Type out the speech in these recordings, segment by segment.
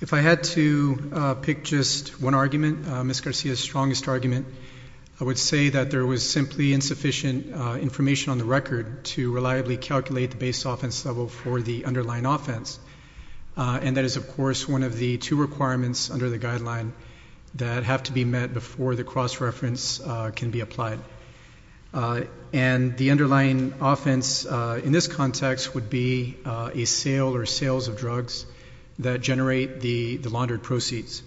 If I had to pick just one argument, Ms. Garcia's strongest argument, I would say that there was simply insufficient information on the record to reliably calculate the base offense level for the underlying offense, and that is, of course, one of the two requirements under the guideline that have to be met before the cross-reference can be applied. And the underlying offense in this context would be a sale or sales of drugs that generate the laundered proceeds.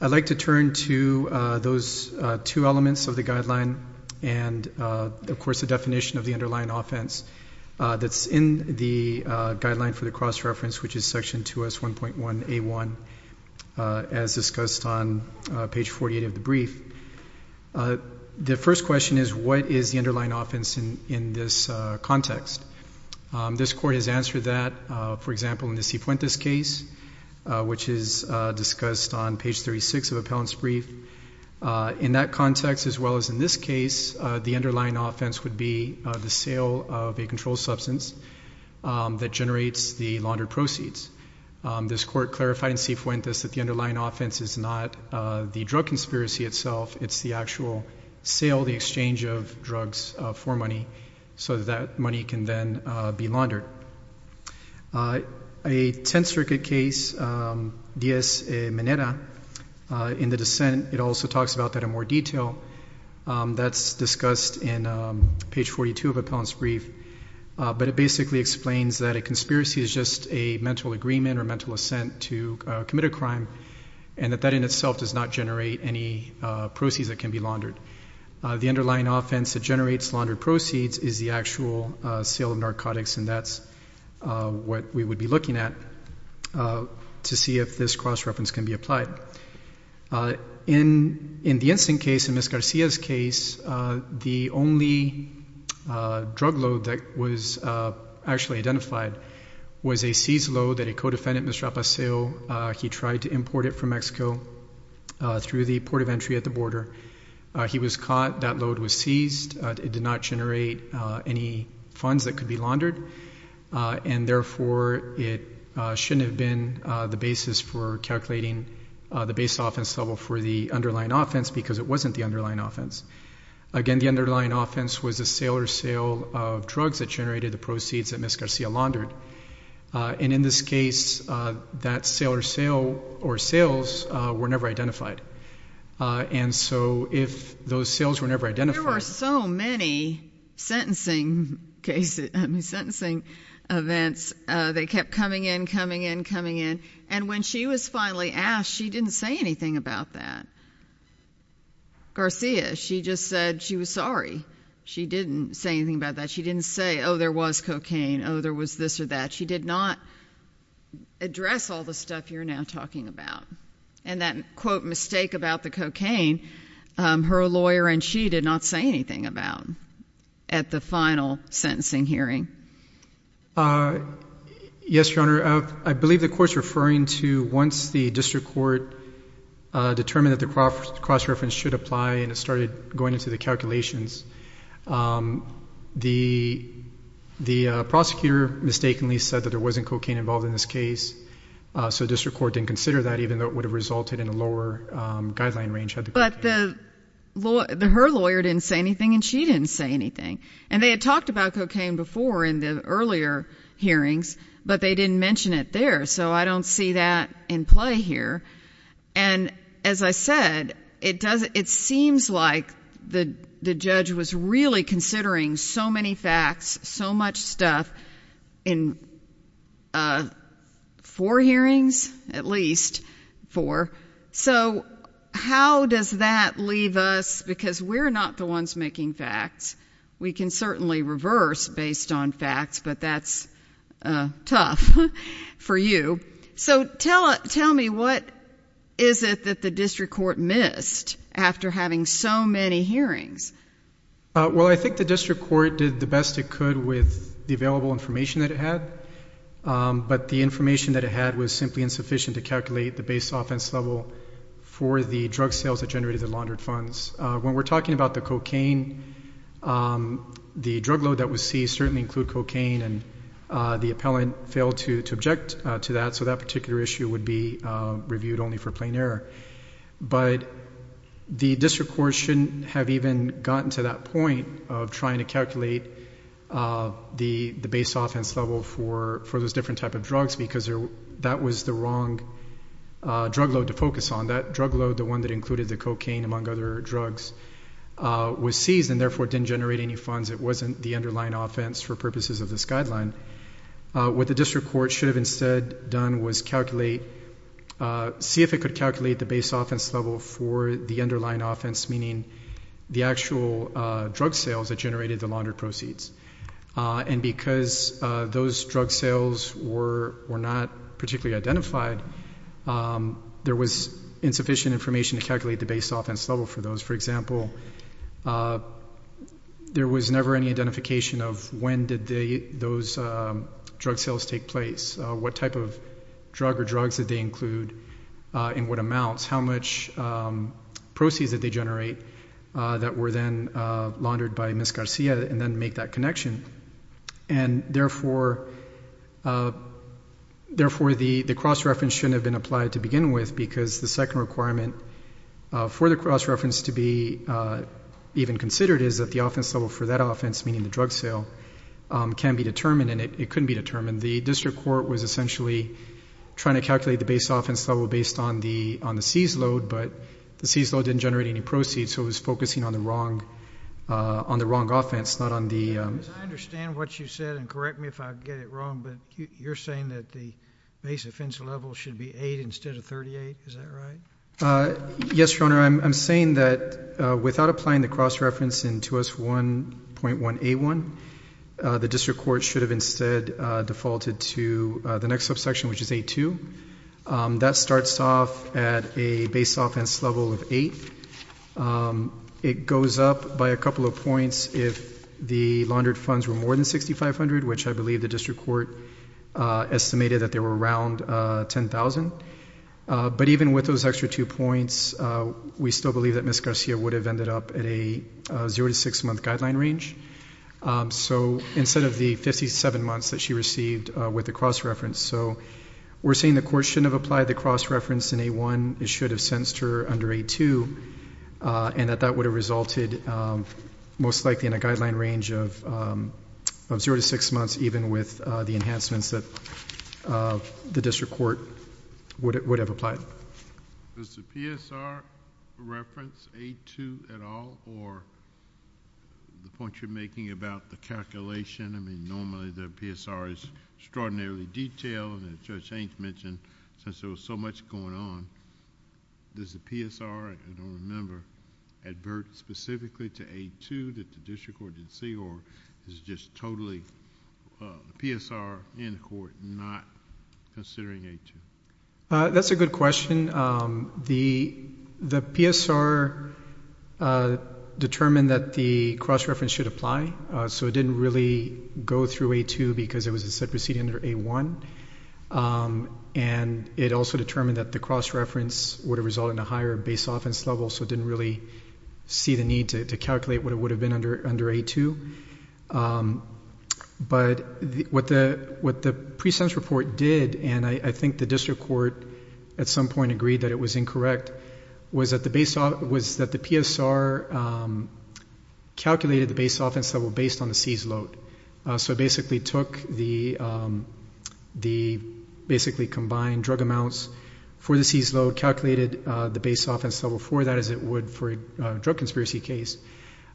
I'd like to turn to those two elements of the guideline and, of course, the definition of the underlying offense that's in the guideline for the cross-reference, which is section 2S1.1A1, as discussed on page 48 of the brief. The first question is, what is the underlying offense in this context? This court has answered that, for example, in the C. Fuentes case, which is discussed on page 36 of appellant's brief. In that context, as well as in this case, the underlying offense would be the sale of a controlled substance that generates the laundered proceeds. This court clarified in C. Fuentes that the underlying offense is not the drug conspiracy itself. It's the actual sale, the exchange of drugs for money, so that that money can then be laundered. A Tenth Circuit case, Diaz-Meneda, in the dissent, it also talks about that in more detail. That's discussed in page 42 of appellant's brief. But it basically explains that a conspiracy is just a mental agreement or mental assent to commit a crime, and that that in itself does not generate any proceeds that can be laundered. The underlying offense that generates laundered proceeds is the actual sale of narcotics, and that's what we would be looking at to see if this cross-reference can be applied. In the instant case, in Ms. Garcia's case, the only drug load that was actually identified was a seized load that a co-defendant, Mr. Apaseo, he tried to import it from Mexico through the port of entry at the border. He was caught. That load was seized. It did not generate any funds that could be laundered. And therefore, it shouldn't have been the basis for calculating the base offense level for the underlying offense because it wasn't the underlying offense. Again, the underlying offense was a sale or sale of drugs that generated the proceeds that Ms. Garcia laundered. And in this case, that sale or sale or sales were never identified. And so if those sales were never identified- There were so many sentencing events. They kept coming in, coming in, coming in. And when she was finally asked, she didn't say anything about that. Garcia, she just said she was sorry. She didn't say anything about that. She didn't say, oh, there was cocaine, oh, there was this or that. She did not address all the stuff you're now talking about. And that, quote, mistake about the cocaine, her lawyer and she did not say anything about at the final sentencing hearing. Yes, Your Honor. I believe the court's referring to once the district court determined that the cross-reference should apply and it started going into the calculations. The prosecutor mistakenly said that there wasn't cocaine involved in this case. So the district court didn't consider that even though it would have resulted in a lower guideline range. But her lawyer didn't say anything and she didn't say anything. And they had talked about cocaine before in the earlier hearings, but they didn't mention it there. So I don't see that in play here. And as I said, it seems like the judge was really considering so many facts, so much stuff in four hearings, at least four. So how does that leave us? Because we're not the ones making facts. We can certainly reverse based on facts, but that's tough for you. So tell me, what is it that the district court missed after having so many hearings? Well, I think the district court did the best it could with the available information that it had. But the information that it had was simply insufficient to calculate the base offense level for the drug sales that generated the laundered funds. When we're talking about the cocaine, the drug load that was seized certainly included cocaine, and the appellant failed to object to that. So that particular issue would be reviewed only for plain error. But the district court shouldn't have even gotten to that point of trying to calculate the base offense level for those different types of drugs because that was the wrong drug load to focus on. That drug load, the one that included the cocaine, among other drugs, was seized, and therefore didn't generate any funds. It wasn't the underlying offense for purposes of this guideline. What the district court should have instead done was see if it could calculate the base offense level for the underlying offense, meaning the actual drug sales that generated the laundered proceeds. And because those drug sales were not particularly identified, there was insufficient information to calculate the base offense level for those. For example, there was never any identification of when did those drug sales take place, what type of drug or drugs did they include, in what amounts, how much proceeds did they generate that were then laundered by Ms. Garcia, and then make that connection. And therefore the cross-reference shouldn't have been applied to begin with because the second requirement for the cross-reference to be even considered is that the offense level for that offense, meaning the drug sale, can be determined, and it couldn't be determined. The district court was essentially trying to calculate the base offense level based on the seized load, but the seized load didn't generate any proceeds, so it was focusing on the wrong offense, not on the- I understand what you said, and correct me if I get it wrong, but you're saying that the base offense level should be 8 instead of 38, is that right? Yes, Your Honor. I'm saying that without applying the cross-reference in 2S1.181, the district court should have instead defaulted to the next subsection, which is 8.2. That starts off at a base offense level of 8. It goes up by a couple of points if the laundered funds were more than $6,500, which I believe the district court estimated that they were around $10,000. But even with those extra two points, we still believe that Ms. Garcia would have ended up at a 0-6 month guideline range. So instead of the 57 months that she received with the cross-reference, so we're saying the court shouldn't have applied the cross-reference in A1. It should have sentenced her under A2, and that that would have resulted most likely in a guideline range of 0-6 months, even with the enhancements that the district court would have applied. Does the PSR reference A2 at all, or the point you're making about the calculation? I mean, normally the PSR is extraordinarily detailed, and Judge Hanks mentioned since there was so much going on, does the PSR, I don't remember, advert specifically to A2 that the district court didn't see, or is it just totally the PSR and the court not considering A2? That's a good question. The PSR determined that the cross-reference should apply, so it didn't really go through A2 because it was a set proceeding under A1, and it also determined that the cross-reference would have resulted in a higher base offense level, so it didn't really see the need to calculate what it would have been under A2. But what the pre-sentence report did, and I think the district court at some point agreed that it was incorrect, was that the PSR calculated the base offense level based on the seized load. So it basically took the basically combined drug amounts for the seized load, calculated the base offense level for that as it would for a drug conspiracy case.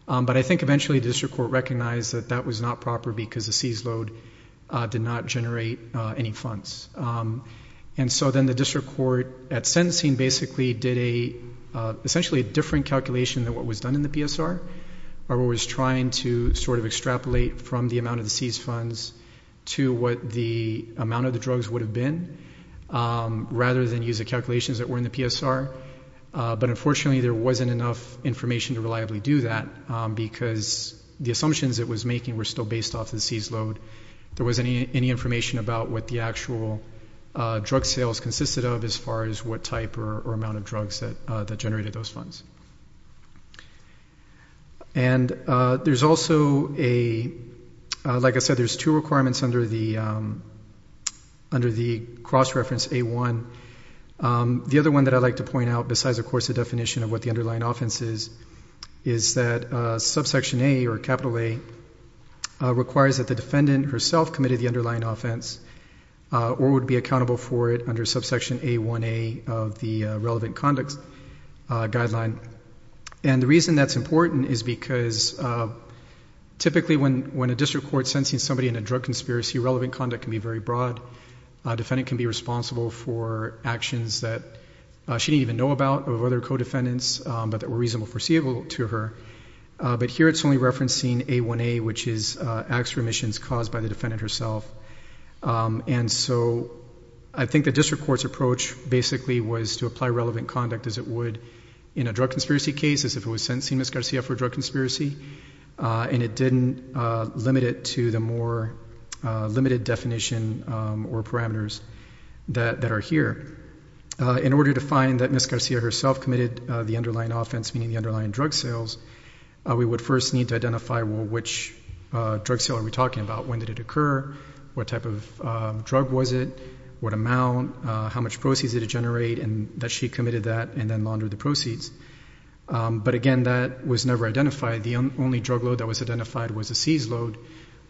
But I think eventually the district court recognized that that was not proper because the seized load did not generate any funds. And so then the district court at sentencing basically did essentially a different calculation than what was done in the PSR, where it was trying to sort of extrapolate from the amount of the seized funds to what the amount of the drugs would have been, rather than use the calculations that were in the PSR. But unfortunately there wasn't enough information to reliably do that because the assumptions it was making were still based off the seized load. There wasn't any information about what the actual drug sales consisted of as far as what type or amount of drugs that generated those funds. And there's also a, like I said, there's two requirements under the cross-reference A1. The other one that I'd like to point out, besides of course the definition of what the underlying offense is, is that subsection A, or capital A, requires that the defendant herself committed the underlying offense or would be accountable for it under subsection A1A of the relevant conduct guideline. And the reason that's important is because typically when a district court sentencing somebody in a drug conspiracy, relevant conduct can be very broad. A defendant can be responsible for actions that she didn't even know about of other co-defendants but that were reasonable foreseeable to her. But here it's only referencing A1A, which is acts or omissions caused by the defendant herself. And so I think the district court's approach basically was to apply relevant conduct as it would in a drug conspiracy case as if it was sentencing Ms. Garcia for a drug conspiracy, and it didn't limit it to the more limited definition or parameters that are here. In order to find that Ms. Garcia herself committed the underlying offense, meaning the underlying drug sales, we would first need to identify, well, which drug sale are we talking about? When did it occur? What type of drug was it? What amount? How much proceeds did it generate? And that she committed that and then laundered the proceeds. But again, that was never identified. The only drug load that was identified was a seized load,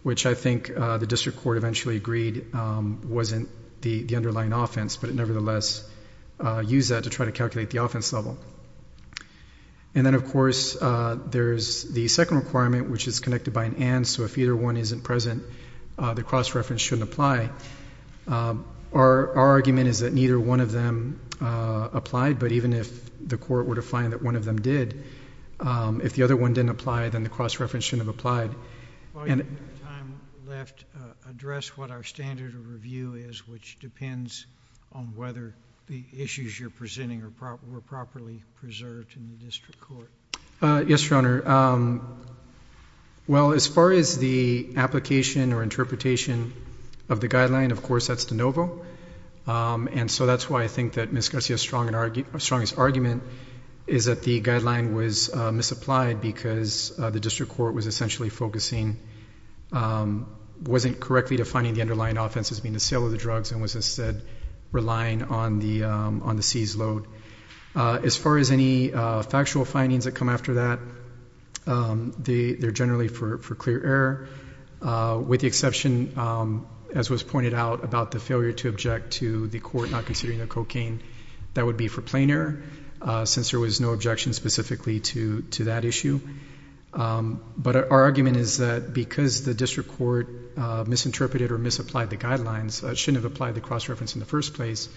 which I think the district court eventually agreed wasn't the underlying offense, but it nevertheless used that to try to calculate the offense level. And then, of course, there's the second requirement, which is connected by an and. So if either one isn't present, the cross-reference shouldn't apply. Our argument is that neither one of them applied, but even if the court were to find that one of them did, if the other one didn't apply, then the cross-reference shouldn't have applied. While you have time left, address what our standard of review is, which depends on whether the issues you're presenting were properly preserved in the district court. Yes, Your Honor. Well, as far as the application or interpretation of the guideline, of course that's de novo. And so that's why I think that Ms. Garcia's strongest argument is that the guideline was misapplied because the district court was essentially focusing, wasn't correctly defining the underlying offense as being the sale of the drugs, and was instead relying on the seized load. As far as any factual findings that come after that, they're generally for clear error, with the exception, as was pointed out, about the failure to object to the court not considering the cocaine. That would be for plain error since there was no objection specifically to that issue. But our argument is that because the district court misinterpreted or misapplied the guidelines, it shouldn't have applied the cross-reference in the first place.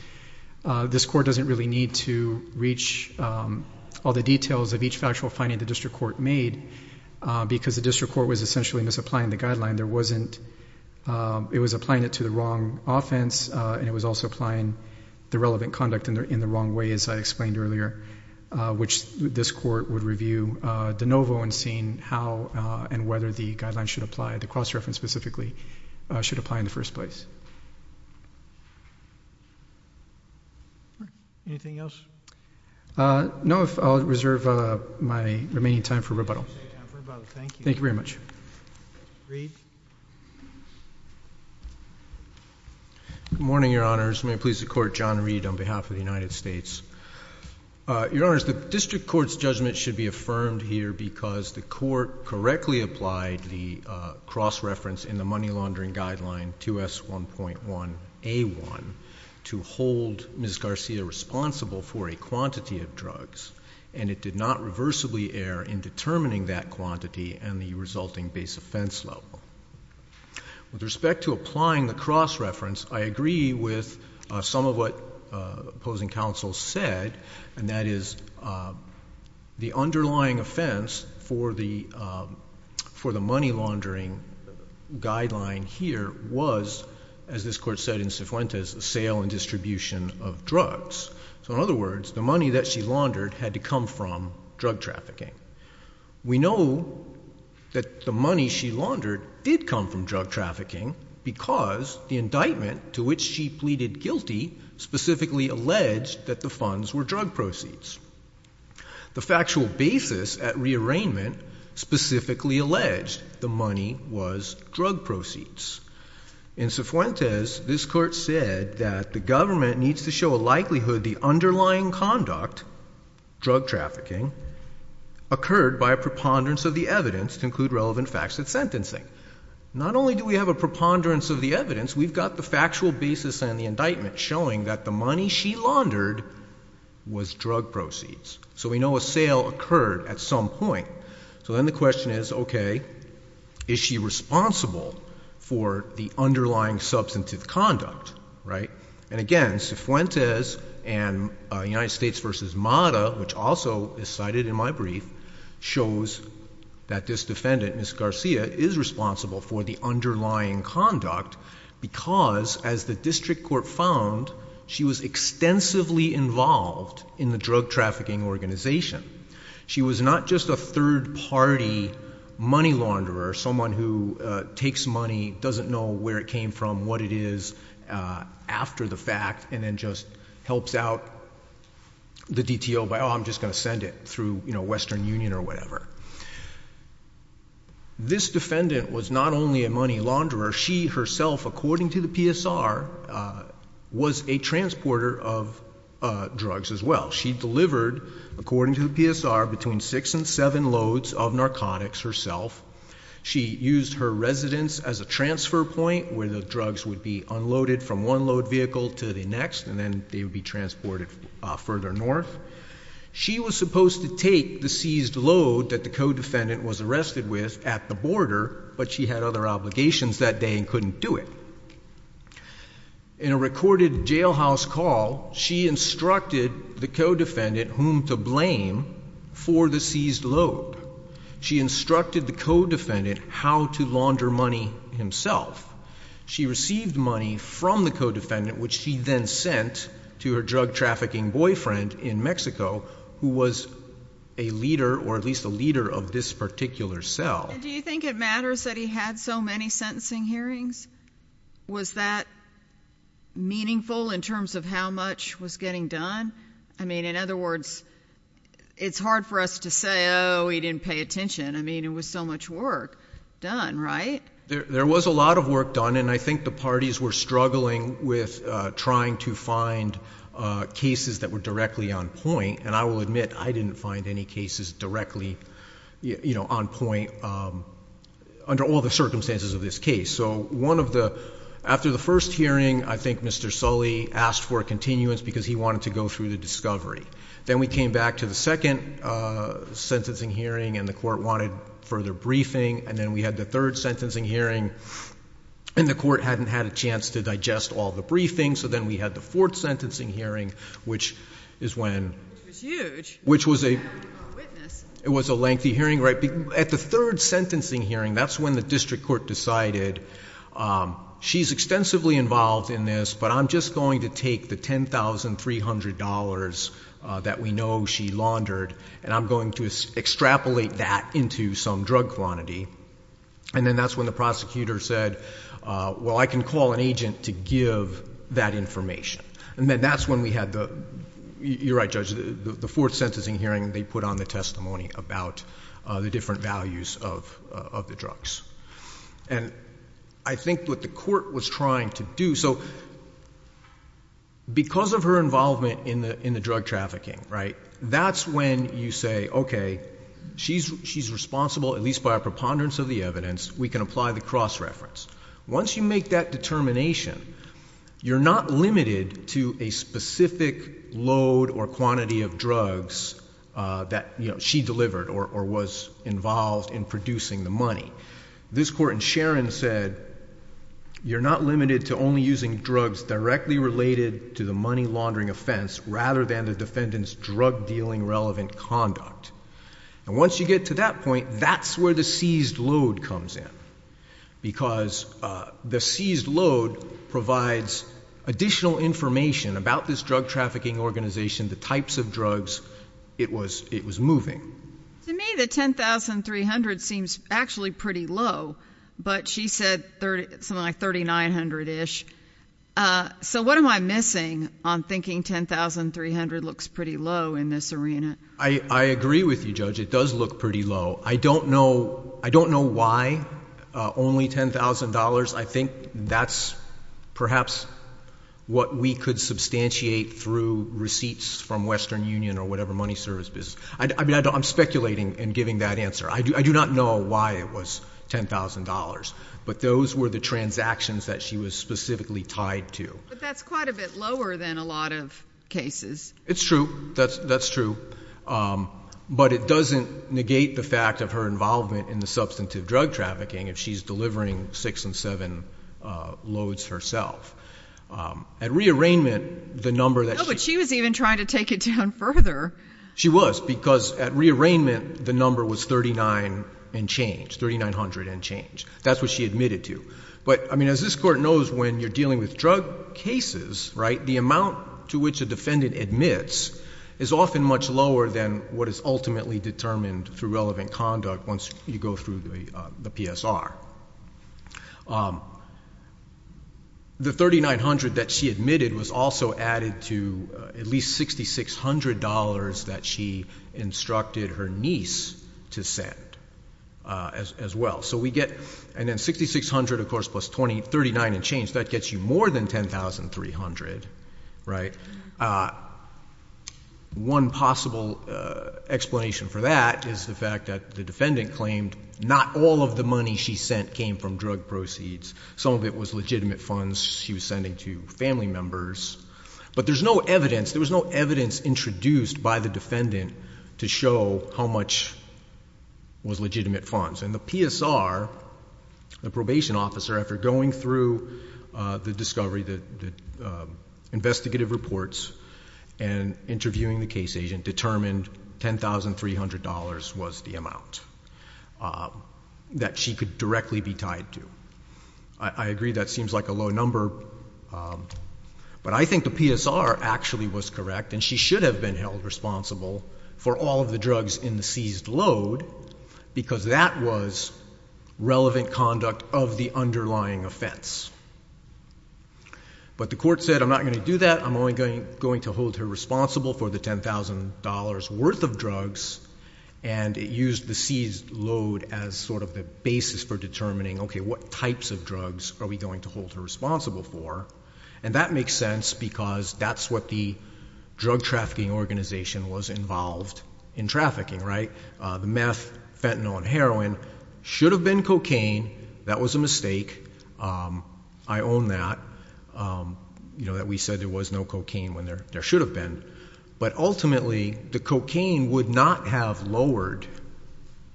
This court doesn't really need to reach all the details of each factual finding the district court made because the district court was essentially misapplying the guideline. There wasn't ‑‑ it was applying it to the wrong offense, and it was also applying the relevant conduct in the wrong way, as I explained earlier, which this court would review de novo in seeing how and whether the guideline should apply, the cross-reference specifically, should apply in the first place. Anything else? No, I'll reserve my remaining time for rebuttal. Thank you very much. Good morning, Your Honors. May it please the Court, John Reed on behalf of the United States. Your Honors, the district court's judgment should be affirmed here because the court correctly applied the cross-reference in the money laundering guideline 2S1.1A1 to hold Ms. Garcia responsible for a quantity of drugs, and it did not reversibly err in determining that quantity and the resulting base offense level. With respect to applying the cross-reference, I agree with some of what opposing counsel said, and that is the underlying offense for the money laundering guideline here was, as this court said in Cifuentes, a sale and distribution of drugs. So in other words, the money that she laundered had to come from drug trafficking. We know that the money she laundered did come from drug trafficking because the indictment to which she pleaded guilty specifically alleged that the funds were drug proceeds. The factual basis at rearrangement specifically alleged the money was drug proceeds. In Cifuentes, this court said that the government needs to show a likelihood the underlying conduct, drug trafficking, occurred by a preponderance of the evidence to include relevant facts at sentencing. Not only do we have a preponderance of the evidence, we've got the factual basis and the indictment showing that the money she laundered was drug proceeds. So we know a sale occurred at some point. So then the question is, okay, is she responsible for the underlying substantive conduct, right? And again, Cifuentes and United States v. MATA, which also is cited in my brief, shows that this defendant, Ms. Garcia, is responsible for the underlying conduct because, as the district court found, she was extensively involved in the drug trafficking organization. She was not just a third-party money launderer, someone who takes money, doesn't know where it came from, what it is, after the fact, and then just helps out the DTO by, oh, I'm just going to send it through Western Union or whatever. This defendant was not only a money launderer. She herself, according to the PSR, was a transporter of drugs as well. She delivered, according to the PSR, between six and seven loads of narcotics herself. She used her residence as a transfer point where the drugs would be unloaded from one load vehicle to the next, and then they would be transported further north. She was supposed to take the seized load that the co-defendant was arrested with at the border, but she had other obligations that day and couldn't do it. In a recorded jailhouse call, she instructed the co-defendant whom to blame for the seized load. She instructed the co-defendant how to launder money himself. She received money from the co-defendant, which she then sent to her drug trafficking boyfriend in Mexico, who was a leader or at least a leader of this particular cell. Do you think it matters that he had so many sentencing hearings? Was that meaningful in terms of how much was getting done? I mean, in other words, it's hard for us to say, oh, he didn't pay attention. I mean, it was so much work done, right? There was a lot of work done, and I think the parties were struggling with trying to find cases that were directly on point, and I will admit I didn't find any cases directly on point under all the circumstances of this case. So after the first hearing, I think Mr. Sully asked for a continuance because he wanted to go through the discovery. Then we came back to the second sentencing hearing, and the court wanted further briefing, and then we had the third sentencing hearing, and the court hadn't had a chance to digest all the briefings, so then we had the fourth sentencing hearing, which was a lengthy hearing. At the third sentencing hearing, that's when the district court decided she's extensively involved in this, but I'm just going to take the $10,300 that we know she laundered, and I'm going to extrapolate that into some drug quantity. And then that's when the prosecutor said, well, I can call an agent to give that information. And then that's when we had the, you're right, Judge, the fourth sentencing hearing, they put on the testimony about the different values of the drugs. And I think what the court was trying to do, so because of her involvement in the drug trafficking, right, that's when you say, okay, she's responsible at least by a preponderance of the evidence. We can apply the cross-reference. Once you make that determination, you're not limited to a specific load or quantity of drugs that she delivered or was involved in producing the money. This court in Sharon said you're not limited to only using drugs directly related to the money laundering offense rather than the defendant's drug-dealing relevant conduct. And once you get to that point, that's where the seized load comes in, because the seized load provides additional information about this drug trafficking organization, the types of drugs it was moving. To me, the $10,300 seems actually pretty low, but she said something like $3,900-ish. So what am I missing on thinking $10,300 looks pretty low in this arena? I agree with you, Judge. It does look pretty low. I don't know why only $10,000. I think that's perhaps what we could substantiate through receipts from Western Union or whatever money service business. I'm speculating in giving that answer. I do not know why it was $10,000. But those were the transactions that she was specifically tied to. But that's quite a bit lower than a lot of cases. It's true. That's true. But it doesn't negate the fact of her involvement in the substantive drug trafficking if she's delivering six and seven loads herself. At re-arraignment, the number that she... No, but she was even trying to take it down further. She was, because at re-arraignment, the number was 39 and change, 3,900 and change. That's what she admitted to. But, I mean, as this Court knows, when you're dealing with drug cases, right, the amount to which a defendant admits is often much lower than what is ultimately determined through relevant conduct once you go through the PSR. The 3,900 that she admitted was also added to at least $6,600 that she instructed her niece to send as well. So we get, and then 6,600, of course, plus 39 and change, that gets you more than 10,300, right? One possible explanation for that is the fact that the defendant claimed not all of the money she sent came from drug proceeds. Some of it was legitimate funds she was sending to family members. But there's no evidence. There was no evidence introduced by the defendant to show how much was legitimate funds. And the PSR, the probation officer, after going through the discovery, the investigative reports, and interviewing the case agent, determined $10,300 was the amount that she could directly be tied to. I agree that seems like a low number, but I think the PSR actually was correct, and she should have been held responsible for all of the drugs in the seized load because that was relevant conduct of the underlying offense. But the court said, I'm not going to do that. I'm only going to hold her responsible for the $10,000 worth of drugs, and it used the seized load as sort of the basis for determining, okay, what types of drugs are we going to hold her responsible for. And that makes sense because that's what the drug trafficking organization was involved in trafficking, right? The meth, fentanyl, and heroin should have been cocaine. That was a mistake. I own that, that we said there was no cocaine when there should have been. But ultimately, the cocaine would not have lowered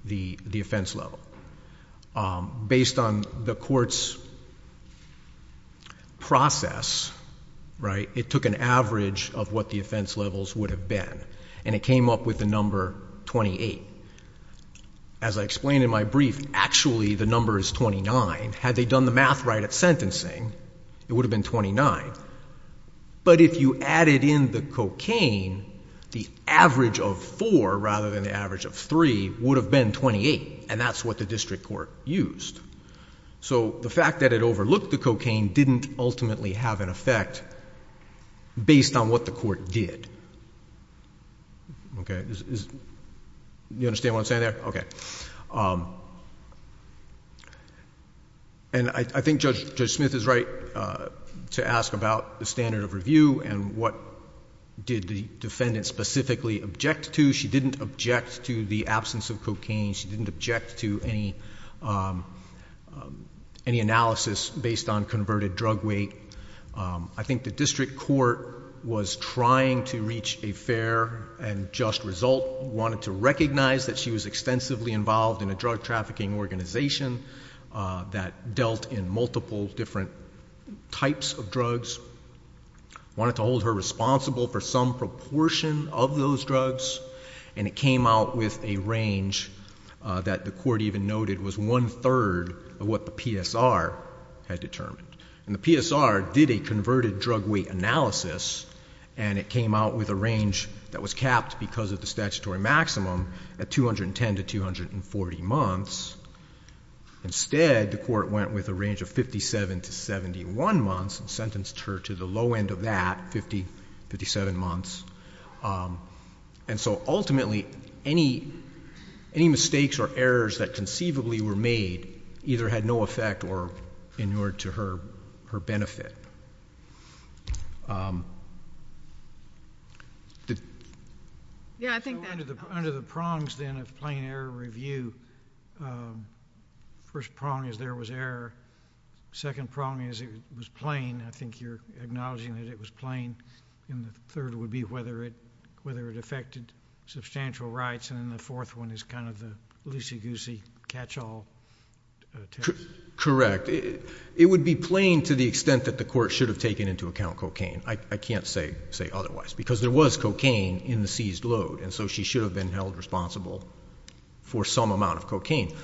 the offense level. Based on the court's process, right, it took an average of what the offense levels would have been, and it came up with the number 28. As I explained in my brief, actually the number is 29. Had they done the math right at sentencing, it would have been 29. But if you added in the cocaine, the average of 4 rather than the average of 3 would have been 28, and that's what the district court used. So the fact that it overlooked the cocaine didn't ultimately have an effect based on what the court did. Okay. You understand what I'm saying there? Okay. And I think Judge Smith is right to ask about the standard of review and what did the defendant specifically object to. She didn't object to the absence of cocaine. She didn't object to any analysis based on converted drug weight. I think the district court was trying to reach a fair and just result, wanted to recognize that she was extensively involved in a drug trafficking organization that dealt in multiple different types of drugs, wanted to hold her responsible for some proportion of those drugs, and it came out with a range that the court even noted was one-third of what the PSR had determined. And the PSR did a converted drug weight analysis, and it came out with a range that was capped because of the statutory maximum at 210 to 240 months. Instead, the court went with a range of 57 to 71 months and sentenced her to the low end of that, 57 months. And so ultimately, any mistakes or errors that conceivably were made either had no effect or inured to her benefit. Yeah, I think that... So under the prongs, then, of plain error review, first prong is there was error. Second prong is it was plain. I think you're acknowledging that it was plain. And the third would be whether it affected substantial rights. And then the fourth one is kind of the loosey-goosey catch-all test. Correct. It would be plain to the extent that the court should have taken into account cocaine. I can't say otherwise because there was cocaine in the seized load, and so she should have been held responsible for some amount of cocaine.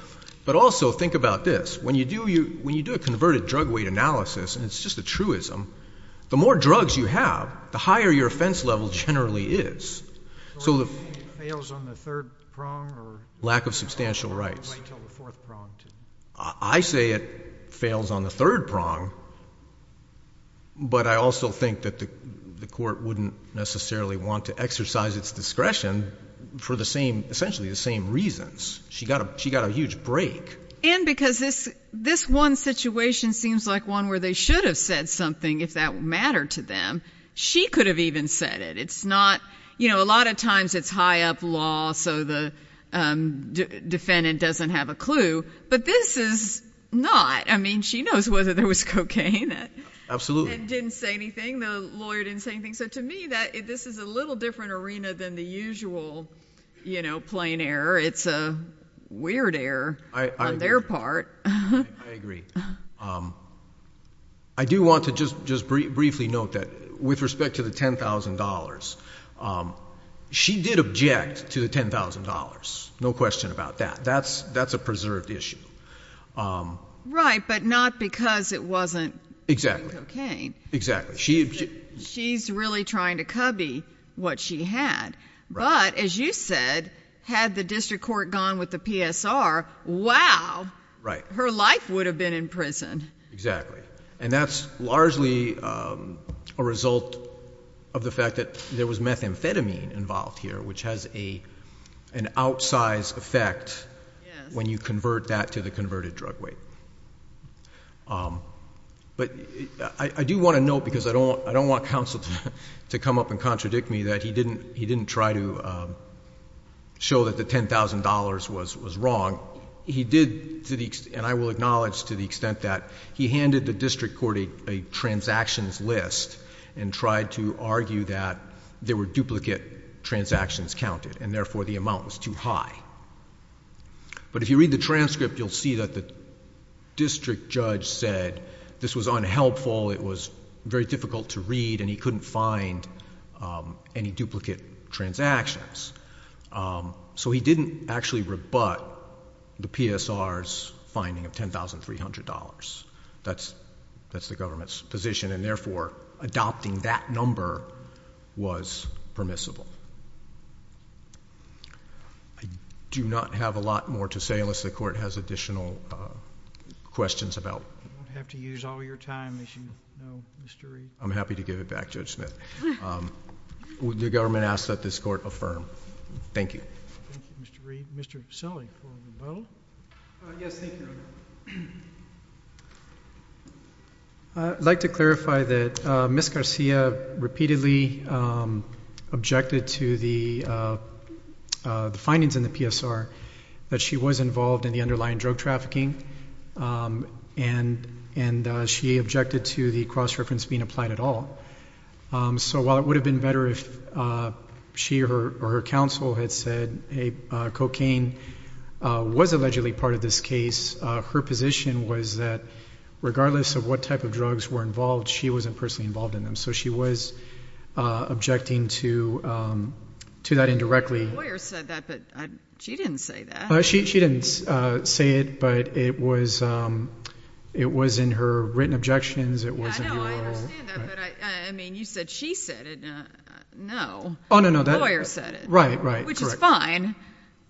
But also think about this. When you do a converted drug weight analysis, and it's just a truism, the more drugs you have, the higher your offense level generally is. So you're saying it fails on the third prong? Lack of substantial rights. Wait until the fourth prong. I say it fails on the third prong, but I also think that the court wouldn't necessarily want to exercise its discretion for essentially the same reasons. She got a huge break. And because this one situation seems like one where they should have said something, if that mattered to them. She could have even said it. A lot of times it's high-up law so the defendant doesn't have a clue. But this is not. I mean, she knows whether there was cocaine and didn't say anything. The lawyer didn't say anything. So to me, this is a little different arena than the usual plain error. It's a weird error. I agree. On their part. I agree. I do want to just briefly note that with respect to the $10,000, she did object to the $10,000, no question about that. That's a preserved issue. Right, but not because it wasn't cocaine. She's really trying to cubby what she had. But as you said, had the district court gone with the PSR, wow. Right. Her life would have been in prison. Exactly. And that's largely a result of the fact that there was methamphetamine involved here, which has an outsized effect when you convert that to the converted drug weight. But I do want to note, because I don't want counsel to come up and contradict me that he didn't try to show that the $10,000 was wrong. He did, and I will acknowledge to the extent that, he handed the district court a transactions list and tried to argue that there were duplicate transactions counted and therefore the amount was too high. But if you read the transcript, you'll see that the district judge said this was unhelpful, it was very difficult to read, and he couldn't find any duplicate transactions. So he didn't actually rebut the PSR's finding of $10,300. That's the government's position, and therefore adopting that number was permissible. I do not have a lot more to say unless the court has additional questions about it. I won't have to use all your time, as you know, Mr. Reed. I'm happy to give it back, Judge Smith. The government asks that this court affirm. Thank you. Thank you, Mr. Reed. Mr. Sully for the vote. Yes, thank you, Your Honor. I'd like to clarify that Ms. Garcia repeatedly objected to the findings in the PSR that she was involved in the underlying drug trafficking and she objected to the cross-reference being applied at all. So while it would have been better if she or her counsel had said, hey, cocaine was allegedly part of this case, her position was that regardless of what type of drugs were involved, she wasn't personally involved in them. So she was objecting to that indirectly. My lawyer said that, but she didn't say that. She didn't say it, but it was in her written objections. I know, I understand that, but, I mean, you said she said it. No, the lawyer said it. Right, right. Which is fine.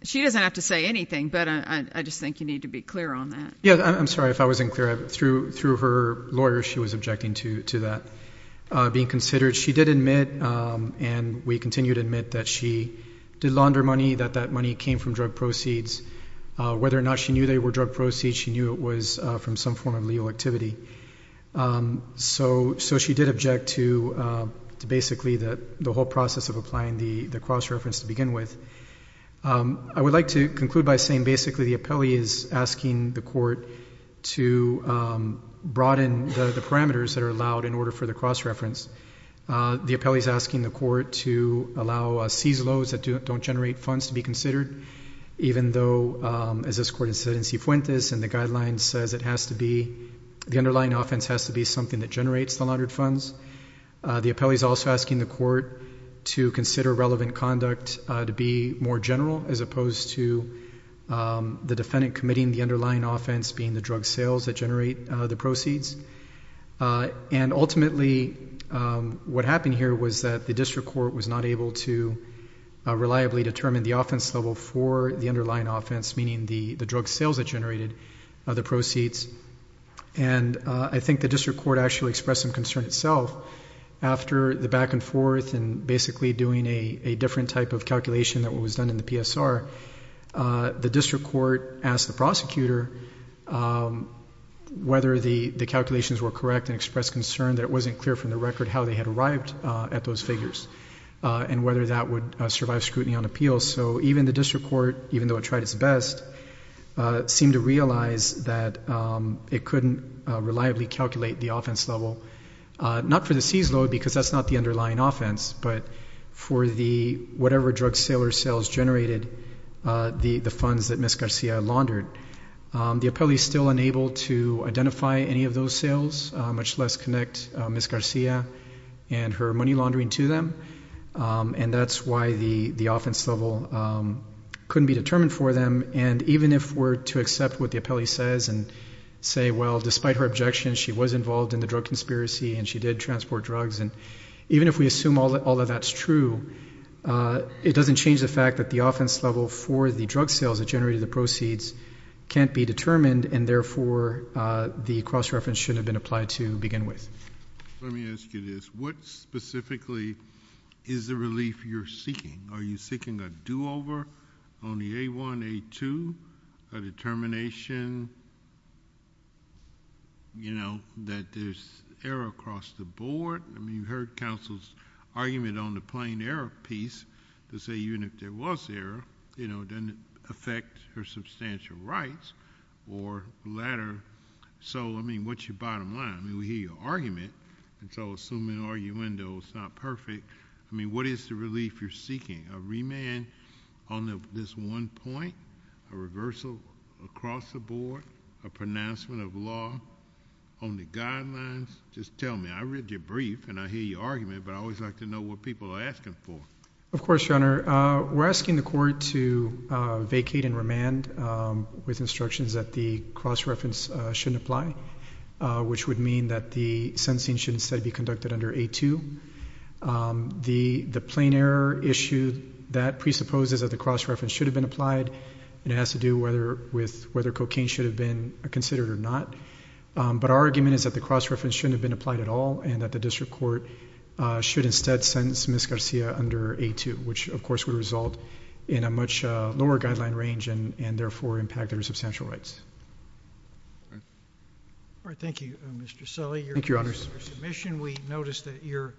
She doesn't have to say anything, but I just think you need to be clear on that. I'm sorry if I wasn't clear. Through her lawyer, she was objecting to that being considered. She did admit, and we continue to admit, that she did launder money, that that money came from drug proceeds. Whether or not she knew they were drug proceeds, she knew it was from some form of legal activity. So she did object to basically the whole process of applying the cross-reference to begin with. I would like to conclude by saying basically the appellee is asking the court to broaden the parameters that are allowed in order for the cross-reference. The appellee is asking the court to allow CSLOs that don't generate funds to be considered, even though, as this court has said in C. Fuentes, and the guidelines says it has to be, the underlying offense has to be something that generates the laundered funds. The appellee is also asking the court to consider relevant conduct to be more general, as opposed to the defendant committing the underlying offense being the drug sales that generate the proceeds. Ultimately, what happened here was that the district court was not able to reliably determine the offense level for the underlying offense, meaning the drug sales that generated the proceeds. I think the district court actually expressed some concern itself. After the back-and-forth and basically doing a different type of calculation than what was done in the PSR, the district court asked the prosecutor whether the calculations were correct and expressed concern that it wasn't clear from the record how they had arrived at those figures and whether that would survive scrutiny on appeals. So even the district court, even though it tried its best, seemed to realize that it couldn't reliably calculate the offense level, not for the CSLO because that's not the underlying offense, but for whatever drug sales generated the funds that Ms. Garcia laundered. The appellee is still unable to identify any of those sales, much less connect Ms. Garcia and her money laundering to them, and that's why the offense level couldn't be determined for them. And even if we're to accept what the appellee says and say, well, despite her objections, she was involved in the drug conspiracy and she did transport drugs, and even if we assume all of that's true, it doesn't change the fact that the offense level for the drug sales that generated the proceeds can't be determined, and therefore the cross-reference shouldn't have been applied to begin with. Let me ask you this. What specifically is the relief you're seeking? Are you seeking a do-over on the A-1, A-2, a determination, you know, that there's error across the board? I mean, you heard counsel's argument on the plain error piece to say even if there was error, you know, it doesn't affect her substantial rights or the latter. So, I mean, what's your bottom line? I mean, we hear your argument, and so assuming arguendo is not perfect, I mean, what is the relief you're seeking? A remand on this one point, a reversal across the board, a pronouncement of law on the guidelines? Just tell me. I read your brief and I hear your argument, but I always like to know what people are asking for. Of course, Your Honor. We're asking the court to vacate and remand with instructions that the cross-reference shouldn't apply, which would mean that the sentencing should instead be conducted under A-2. The plain error issue, that presupposes that the cross-reference should have been applied, and it has to do with whether cocaine should have been considered or not. But our argument is that the cross-reference shouldn't have been applied at all and that the district court should instead sentence Ms. Garcia under A-2, which, of course, would result in a much lower guideline range and, therefore, impact her substantial rights. All right. All right. Thank you, Mr. Sully. Thank you, Your Honor. Your submission, we noticed that your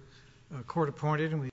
court appointed,